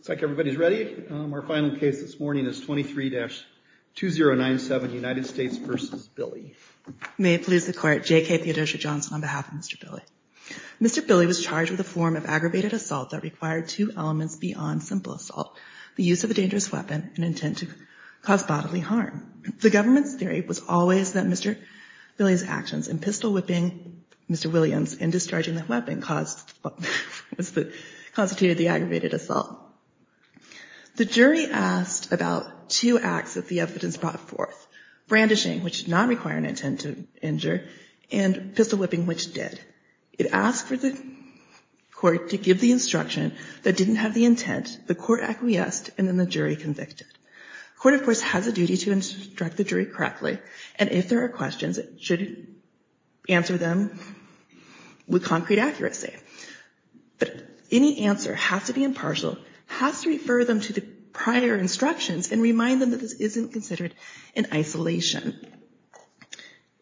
It's like everybody is ready. Our final case this morning is 23-2097 United States v. Billy. May it please the Court. J.K. Theodosia Johnson on behalf of Mr. Billy. Mr. Billy was charged with a form of aggravated assault that required two elements beyond simple assault, the use of a dangerous weapon, and intent to cause bodily harm. The government's theory was always that Mr. Billy's actions in pistol-whipping Mr. Williams and discharging the weapon constituted the aggravated assault. The jury asked about two acts that the evidence brought forth, brandishing, which did not require an intent to injure, and pistol-whipping, which did. It asked for the Court to give the instruction that didn't have the intent, the Court acquiesced, and then the jury convicted. The Court, of course, has a duty to instruct the jury correctly, and if there are questions, it should answer them with concrete accuracy. But any answer has to be impartial, has to refer them to the prior instructions, and remind them that this isn't considered an isolation.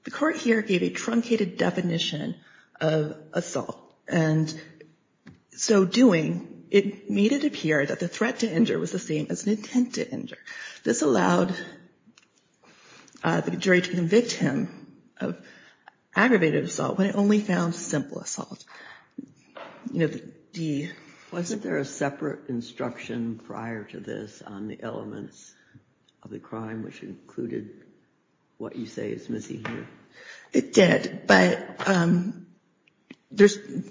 The Court here gave a truncated definition of assault, and so doing, it made it appear that the threat to injure was the same as an intent to injure. This allowed the jury to convict him of aggravated assault, but it only found simple assault. You know, the D. Wasn't there a separate instruction prior to this on the elements of the crime which included what you say is missing here? It did, but the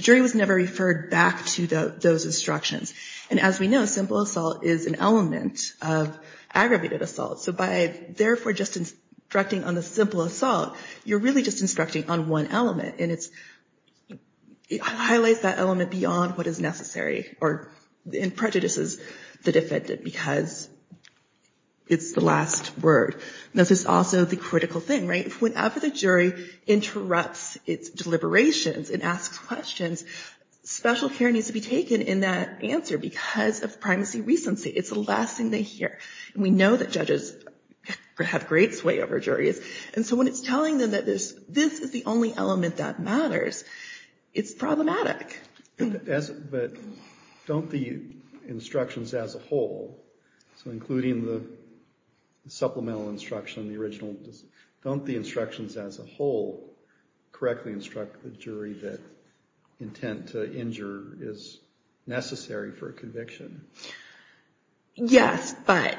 jury was never referred back to those instructions. And as we know, simple assault is an element of aggravated assault, so by, therefore, just instructing on the simple assault, you're really just instructing on one element, and it highlights that element beyond what is necessary, and prejudices the defendant, because it's the last word. This is also the critical thing, right? Whenever the jury interrupts its deliberations and asks questions, special care needs to be taken in that answer because of primacy recency. It's the last thing they hear, and we know that judges have great sway over juries, and so when it's telling them that this is the only element that matters, it's problematic. Don't the instructions as a whole, so including the supplemental instruction, the original, don't the instructions as a whole correctly instruct the jury that intent to injure is necessary for a conviction? Yes, but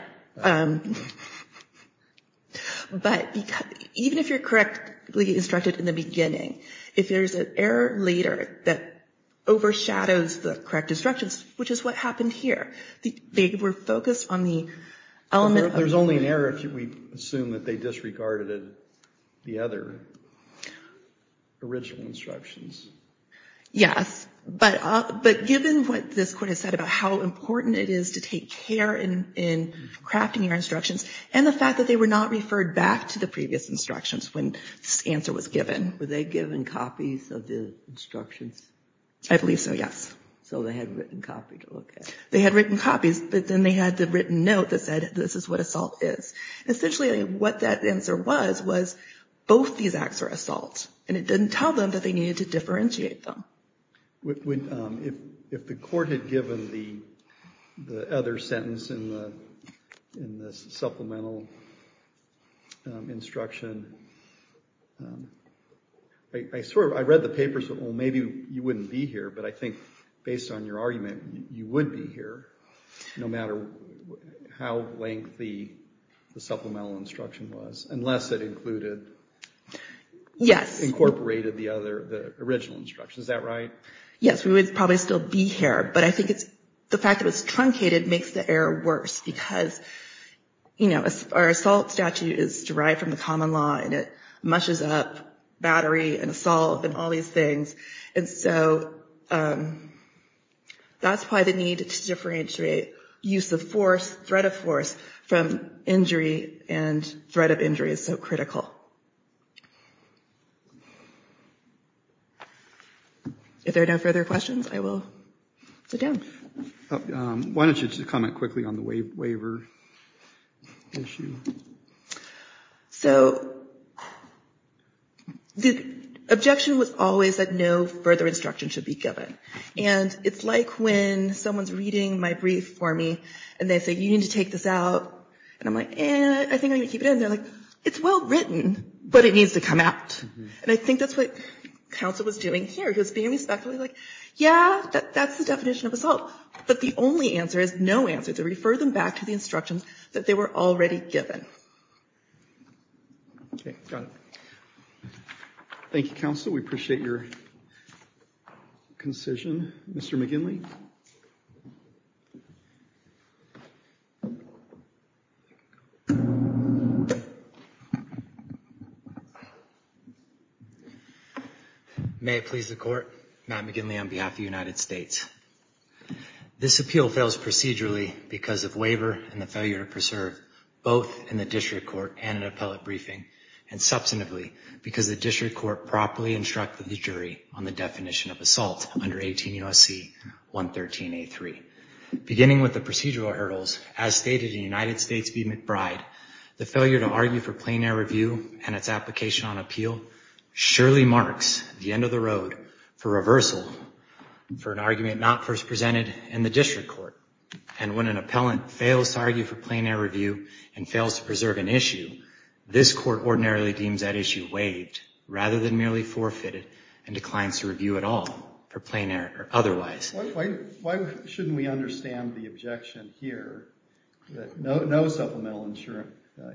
even if you're correctly instructed in the beginning, if there's an error later that overshadows the correct instructions, which is what happened here, they were focused on the element of... It's only an error if we assume that they disregarded the other original instructions. Yes, but given what this court has said about how important it is to take care in crafting your instructions, and the fact that they were not referred back to the previous instructions when this answer was given... Were they given copies of the instructions? I believe so, yes. So they had written copies, okay. Essentially, what that answer was, was both these acts are assaults, and it didn't tell them that they needed to differentiate them. If the court had given the other sentence in the supplemental instruction, I read the papers, well, maybe you wouldn't be here, but I think based on your argument, you would never be here, no matter how lengthy the supplemental instruction was, unless it included... Yes. Incorporated the original instructions, is that right? Yes, we would probably still be here, but I think the fact that it's truncated makes the error worse, because our assault statute is derived from the common law, and it mushes up battery and assault and all these things, and so that's why the need to differentiate use of force, threat of force, from injury and threat of injury is so critical. If there are no further questions, I will sit down. Why don't you just comment quickly on the waiver issue? The objection was always that no further instruction should be given, and it's like when someone's reading my brief for me, and they say, you need to take this out, and I'm like, eh, I think I'm going to keep it in, and they're like, it's well written, but it needs to come out, and I think that's what counsel was doing here, he was being respectful, he was like, yeah, that's the definition of assault, but the only answer is no answer, to refer them back to the instructions that they were already given. Thank you, counsel, we appreciate your concision. Mr. McGinley? May it please the court, Matt McGinley on behalf of the United States. This appeal fails procedurally because of waiver and the failure to preserve, both in the district court and in an appellate briefing, and substantively because the district court properly instructed the jury on the definition of assault under 18 U.S.C. 113A.3. Beginning with the procedural hurdles, as stated in United States v. McBride, the failure to argue for plain air review and its application on appeal surely marks the end of the road for reversal for an argument not first presented in the district court, and when an appellant fails to argue for plain air review and fails to preserve an issue, this court ordinarily deems that issue waived rather than merely forfeited and declines to review at all for plain air or otherwise. Why shouldn't we understand the objection here that no supplemental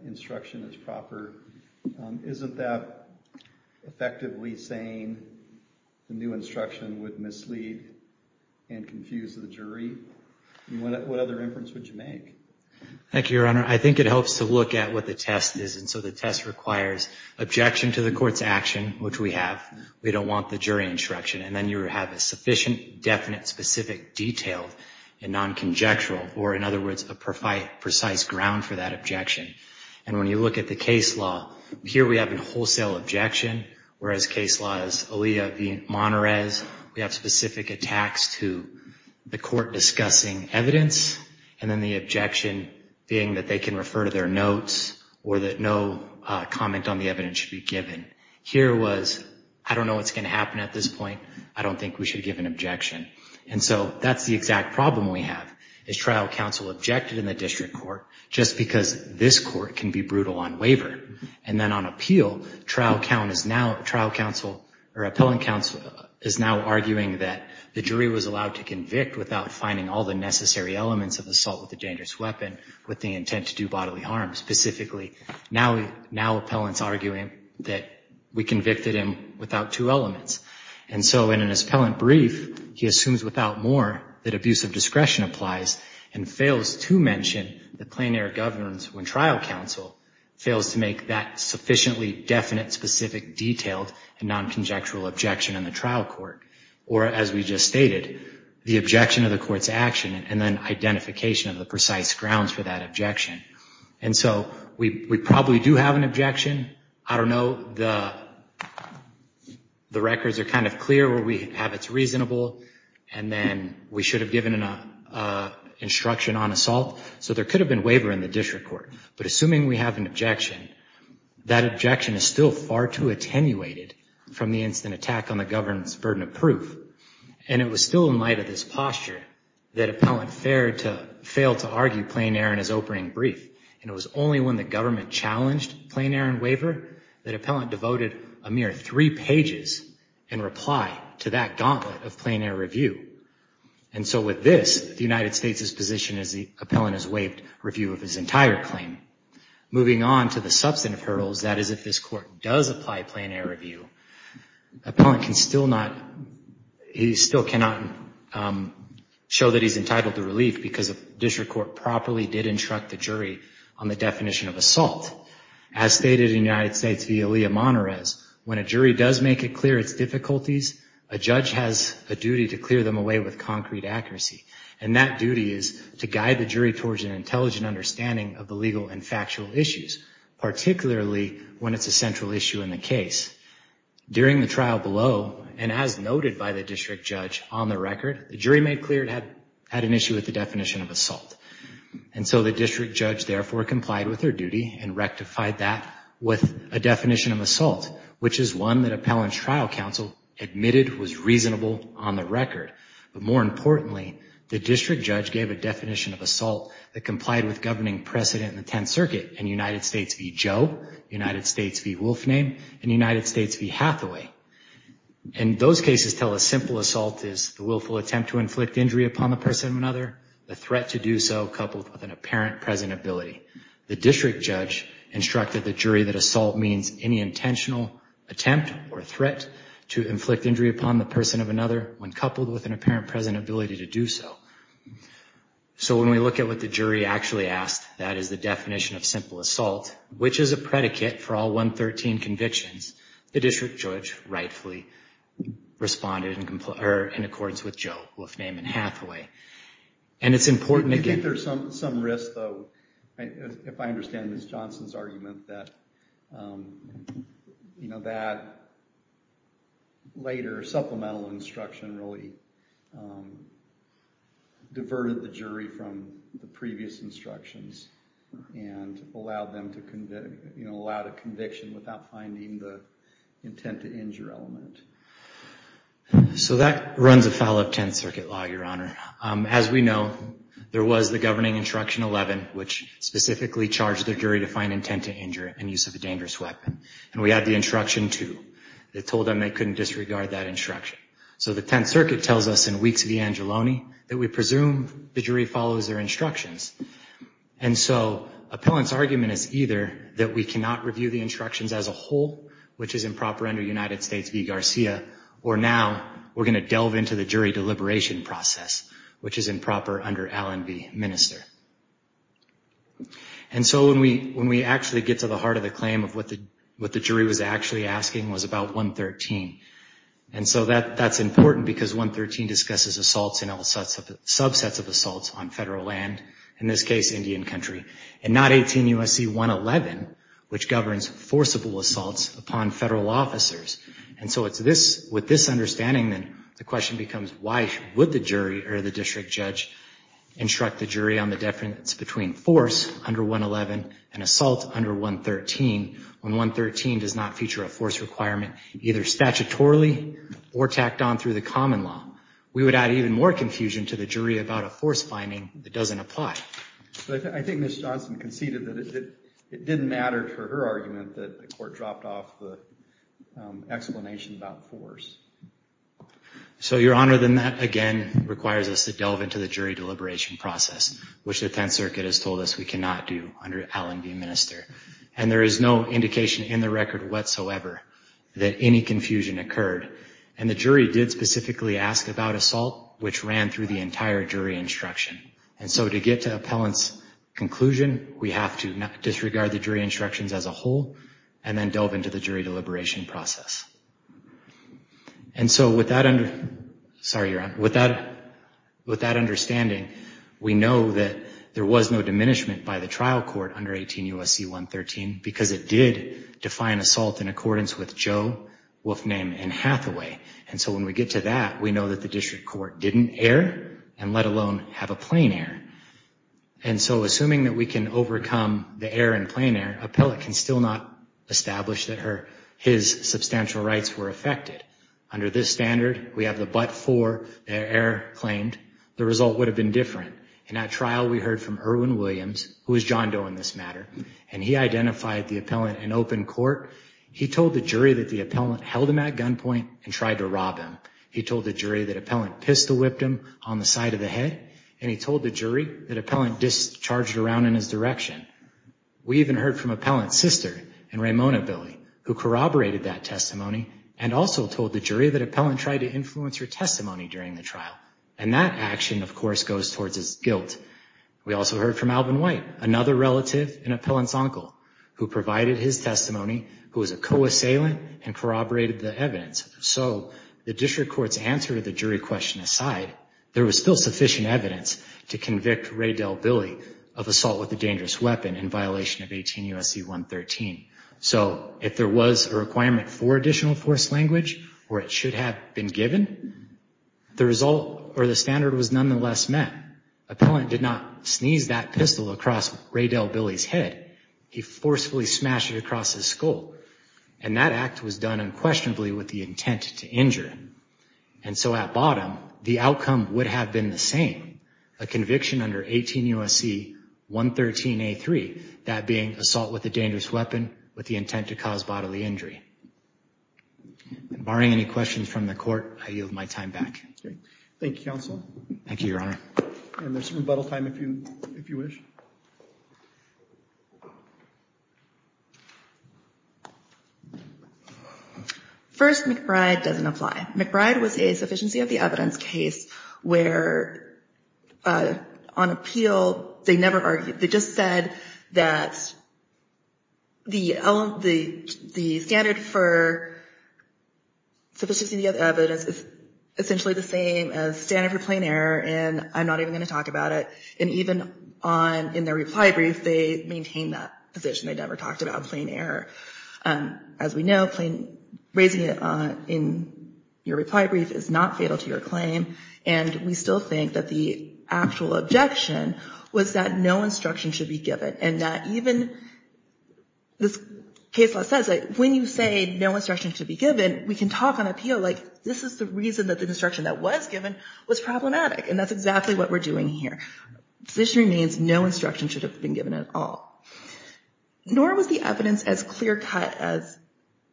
instruction is proper? Isn't that effectively saying the new instruction would mislead and confuse the jury? What other inference would you make? Thank you, Your Honor. I think it helps to look at what the test is, and so the test requires objection to the court's action, which we have. We don't want the jury instruction, and then you have a sufficient, definite, specific, detailed and non-conjectural, or in other words, a precise ground for that objection, and when you look at the case law, here we have a wholesale objection, whereas case law is Alia v. Monterrez. We have specific attacks to the court discussing evidence, and then the objection being that they can refer to their notes or that no comment on the evidence should be given. Here was, I don't know what's going to happen at this point. I don't think we should give an objection, and so that's the exact problem we have, is trial counsel objected in the district court just because this court can be brutal on waiver, and then on appeal, trial counsel or appellant counsel is now arguing that the jury was allowed to convict without finding all the necessary elements of assault with a dangerous weapon with the intent to do bodily harm. Specifically, now appellant's arguing that we convicted him without two elements, and so in an appellant brief, he assumes without more that abuse of discretion applies, and fails to mention the plein air governance when trial counsel fails to make that sufficiently definite specific detailed and non-conjectual objection in the trial court, or as we just stated, the objection of the court's action, and then identification of the precise grounds for that objection, and so we probably do have an objection. I don't know. The records are kind of clear where we have it's reasonable, and then we should have given an instruction on assault, so there could have been waiver in the district court, but assuming we have an objection, that objection is still far too attenuated from the instant attack on the governance burden of proof, and it was still in light of this posture that appellant failed to argue plein air in his opening brief, and it was only when the government challenged plein air in waiver that appellant devoted a mere three pages in reply to that gauntlet of plein air review, and so with this, the United States' position is the appellant has waived review of his entire claim. Moving on to the substantive hurdles, that is, if this court does apply plein air review, appellant can still not, he still cannot show that he's entitled to relief because the district court properly did instruct the jury on the definition of assault. As stated in United States v. Aaliyah Monterrez, when a jury does make it clear its difficulties, a judge has a duty to clear them away with concrete accuracy, and that duty is to guide the jury towards an intelligent understanding of the legal and factual issues, particularly when it's a central issue in the case. During the trial below, and as noted by the district judge on the record, the jury made clear it had an issue with the definition of assault, and so the district judge therefore complied with their duty and rectified that with a definition of assault, which is one that appellant's trial counsel admitted was reasonable on the record, but more importantly, the district judge gave a definition of assault that complied with governing precedent in the Tenth Circuit in United States v. Joe, United States v. Wolfname, and United States v. Hathaway, and those cases tell a simple assault is the willful attempt to inflict injury upon the person of another, the threat to do so coupled with an apparent present ability. The district judge instructed the jury that assault means any intentional attempt or threat to inflict injury upon the person of another when coupled with an apparent present ability to do so. So when we look at what the jury actually asked, that is the definition of simple assault, which is a predicate for all 113 convictions, the district judge rightfully responded in accordance with Joe, Wolfname, and Hathaway, and it's important to get... I think there's some risk, though, if I understand Ms. Johnson's argument that, you know, that later supplemental instruction really diverted the jury from the previous instructions and allowed them to, you know, allowed a conviction without finding the intent to injure element. So that runs afoul of Tenth Circuit law, Your Honor. As we know, there was the governing instruction 11, which specifically charged the jury to find intent to injure in use of a dangerous weapon, and we had the instruction 2 that told them they couldn't disregard that instruction. So the Tenth Circuit tells us in Weeks v. Angelone that we presume the jury follows their instructions, and so appellant's argument is either that we cannot review the instructions as a whole, which is improper under United States v. Garcia, or now we're going to delve into the jury deliberation process, which is improper under Allen v. Minister. And so when we actually get to the heart of the claim of what the jury was actually asking was about 113, and so that's important because 113 discusses assaults and all subsets of assaults on federal land, in this case, Indian country, and not 18 U.S.C. 111, which governs forcible assaults upon federal officers. And so with this understanding, then, the question becomes why would the jury or the district judge instruct the jury on the difference between force under 111 and assault under 113 when 113 does not feature a force requirement either statutorily or tacked on through the common law? We would add even more confusion to the jury about a force finding that doesn't apply. But I think Ms. Johnson conceded that it didn't matter for her argument that the court dropped off the explanation about force. So Your Honor, then that again requires us to delve into the jury deliberation process, which the Tenth Circuit has told us we cannot do under Allen v. Minister. And there is no indication in the record whatsoever that any confusion occurred. And the jury did specifically ask about assault, which ran through the entire jury instruction. And so to get to appellant's conclusion, we have to disregard the jury instructions as a whole and then delve into the jury deliberation process. And so with that understanding, we know that there was no diminishment by the trial court under 18 U.S.C. 113 because it did define assault in accordance with Joe Wolfname and John Hathaway. And so when we get to that, we know that the district court didn't err and let alone have a plain error. And so assuming that we can overcome the error in plain error, appellant can still not establish that her, his substantial rights were affected. Under this standard, we have the but for their error claimed. The result would have been different. In that trial, we heard from Erwin Williams, who is John Doe in this matter, and he identified the appellant in open court. He told the jury that the appellant held him at gunpoint and tried to rob him. He told the jury that appellant pistol whipped him on the side of the head. And he told the jury that appellant discharged around in his direction. We even heard from appellant's sister and Ramona Billy, who corroborated that testimony and also told the jury that appellant tried to influence her testimony during the trial. And that action, of course, goes towards his guilt. We also heard from Alvin White, another relative and appellant's uncle, who provided his testimony, who was a co-assailant and corroborated the evidence. So the district court's answer to the jury question aside, there was still sufficient evidence to convict Raydel Billy of assault with a dangerous weapon in violation of 18 U.S.C. 113. So if there was a requirement for additional force language or it should have been given, the result or the standard was nonetheless met. Appellant did not sneeze that pistol across Raydel Billy's head. He forcefully smashed it across his skull. And that act was done unquestionably with the intent to injure him. And so at bottom, the outcome would have been the same, a conviction under 18 U.S.C. 113A3, that being assault with a dangerous weapon with the intent to cause bodily injury. Barring any questions from the court, I yield my time back. Thank you, counsel. Thank you, Your Honor. And there's rebuttal time if you wish. First, McBride doesn't apply. McBride was a sufficiency of the evidence case where on appeal, they never argued. They just said that the standard for sufficiency of evidence is essentially the same as standard for plain error. And I'm not even going to talk about it. And even on in their reply brief, they maintain that position. They never talked about plain error. As we know, raising it in your reply brief is not fatal to your claim. And we still think that the actual objection was that no instruction should be given and that even this case law says that when you say no instruction to be given, we can talk on appeal like this is the reason that the instruction that was given was problematic. And that's exactly what we're doing here. Position remains no instruction should have been given at all, nor was the evidence as clear cut as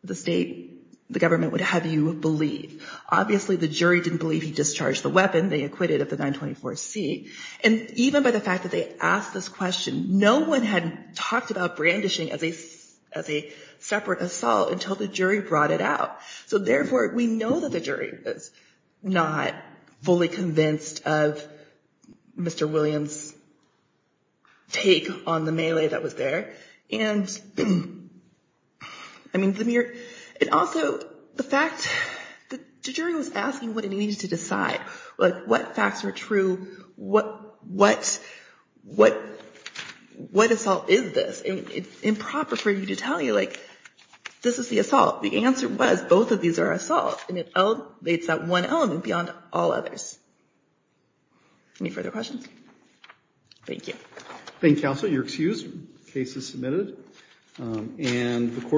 the state, the government would have you believe. Obviously, the jury didn't believe he discharged the weapon they acquitted of the 924-C. And even by the fact that they asked this question, no one had talked about brandishing as a separate assault until the jury brought it out. So therefore, we know that the jury is not fully convinced of Mr. Williams' take on the melee that was there. And I mean, the mere and also the fact that the jury was asking what it needed to decide, like what facts are true, what what what what assault is this? It's improper for you to tell you like this is the assault. The answer was both of these are assault and it elevates that one element beyond all others. Any further questions? Thank you. Thank you, counsel. You're excused. Case is submitted. And the court.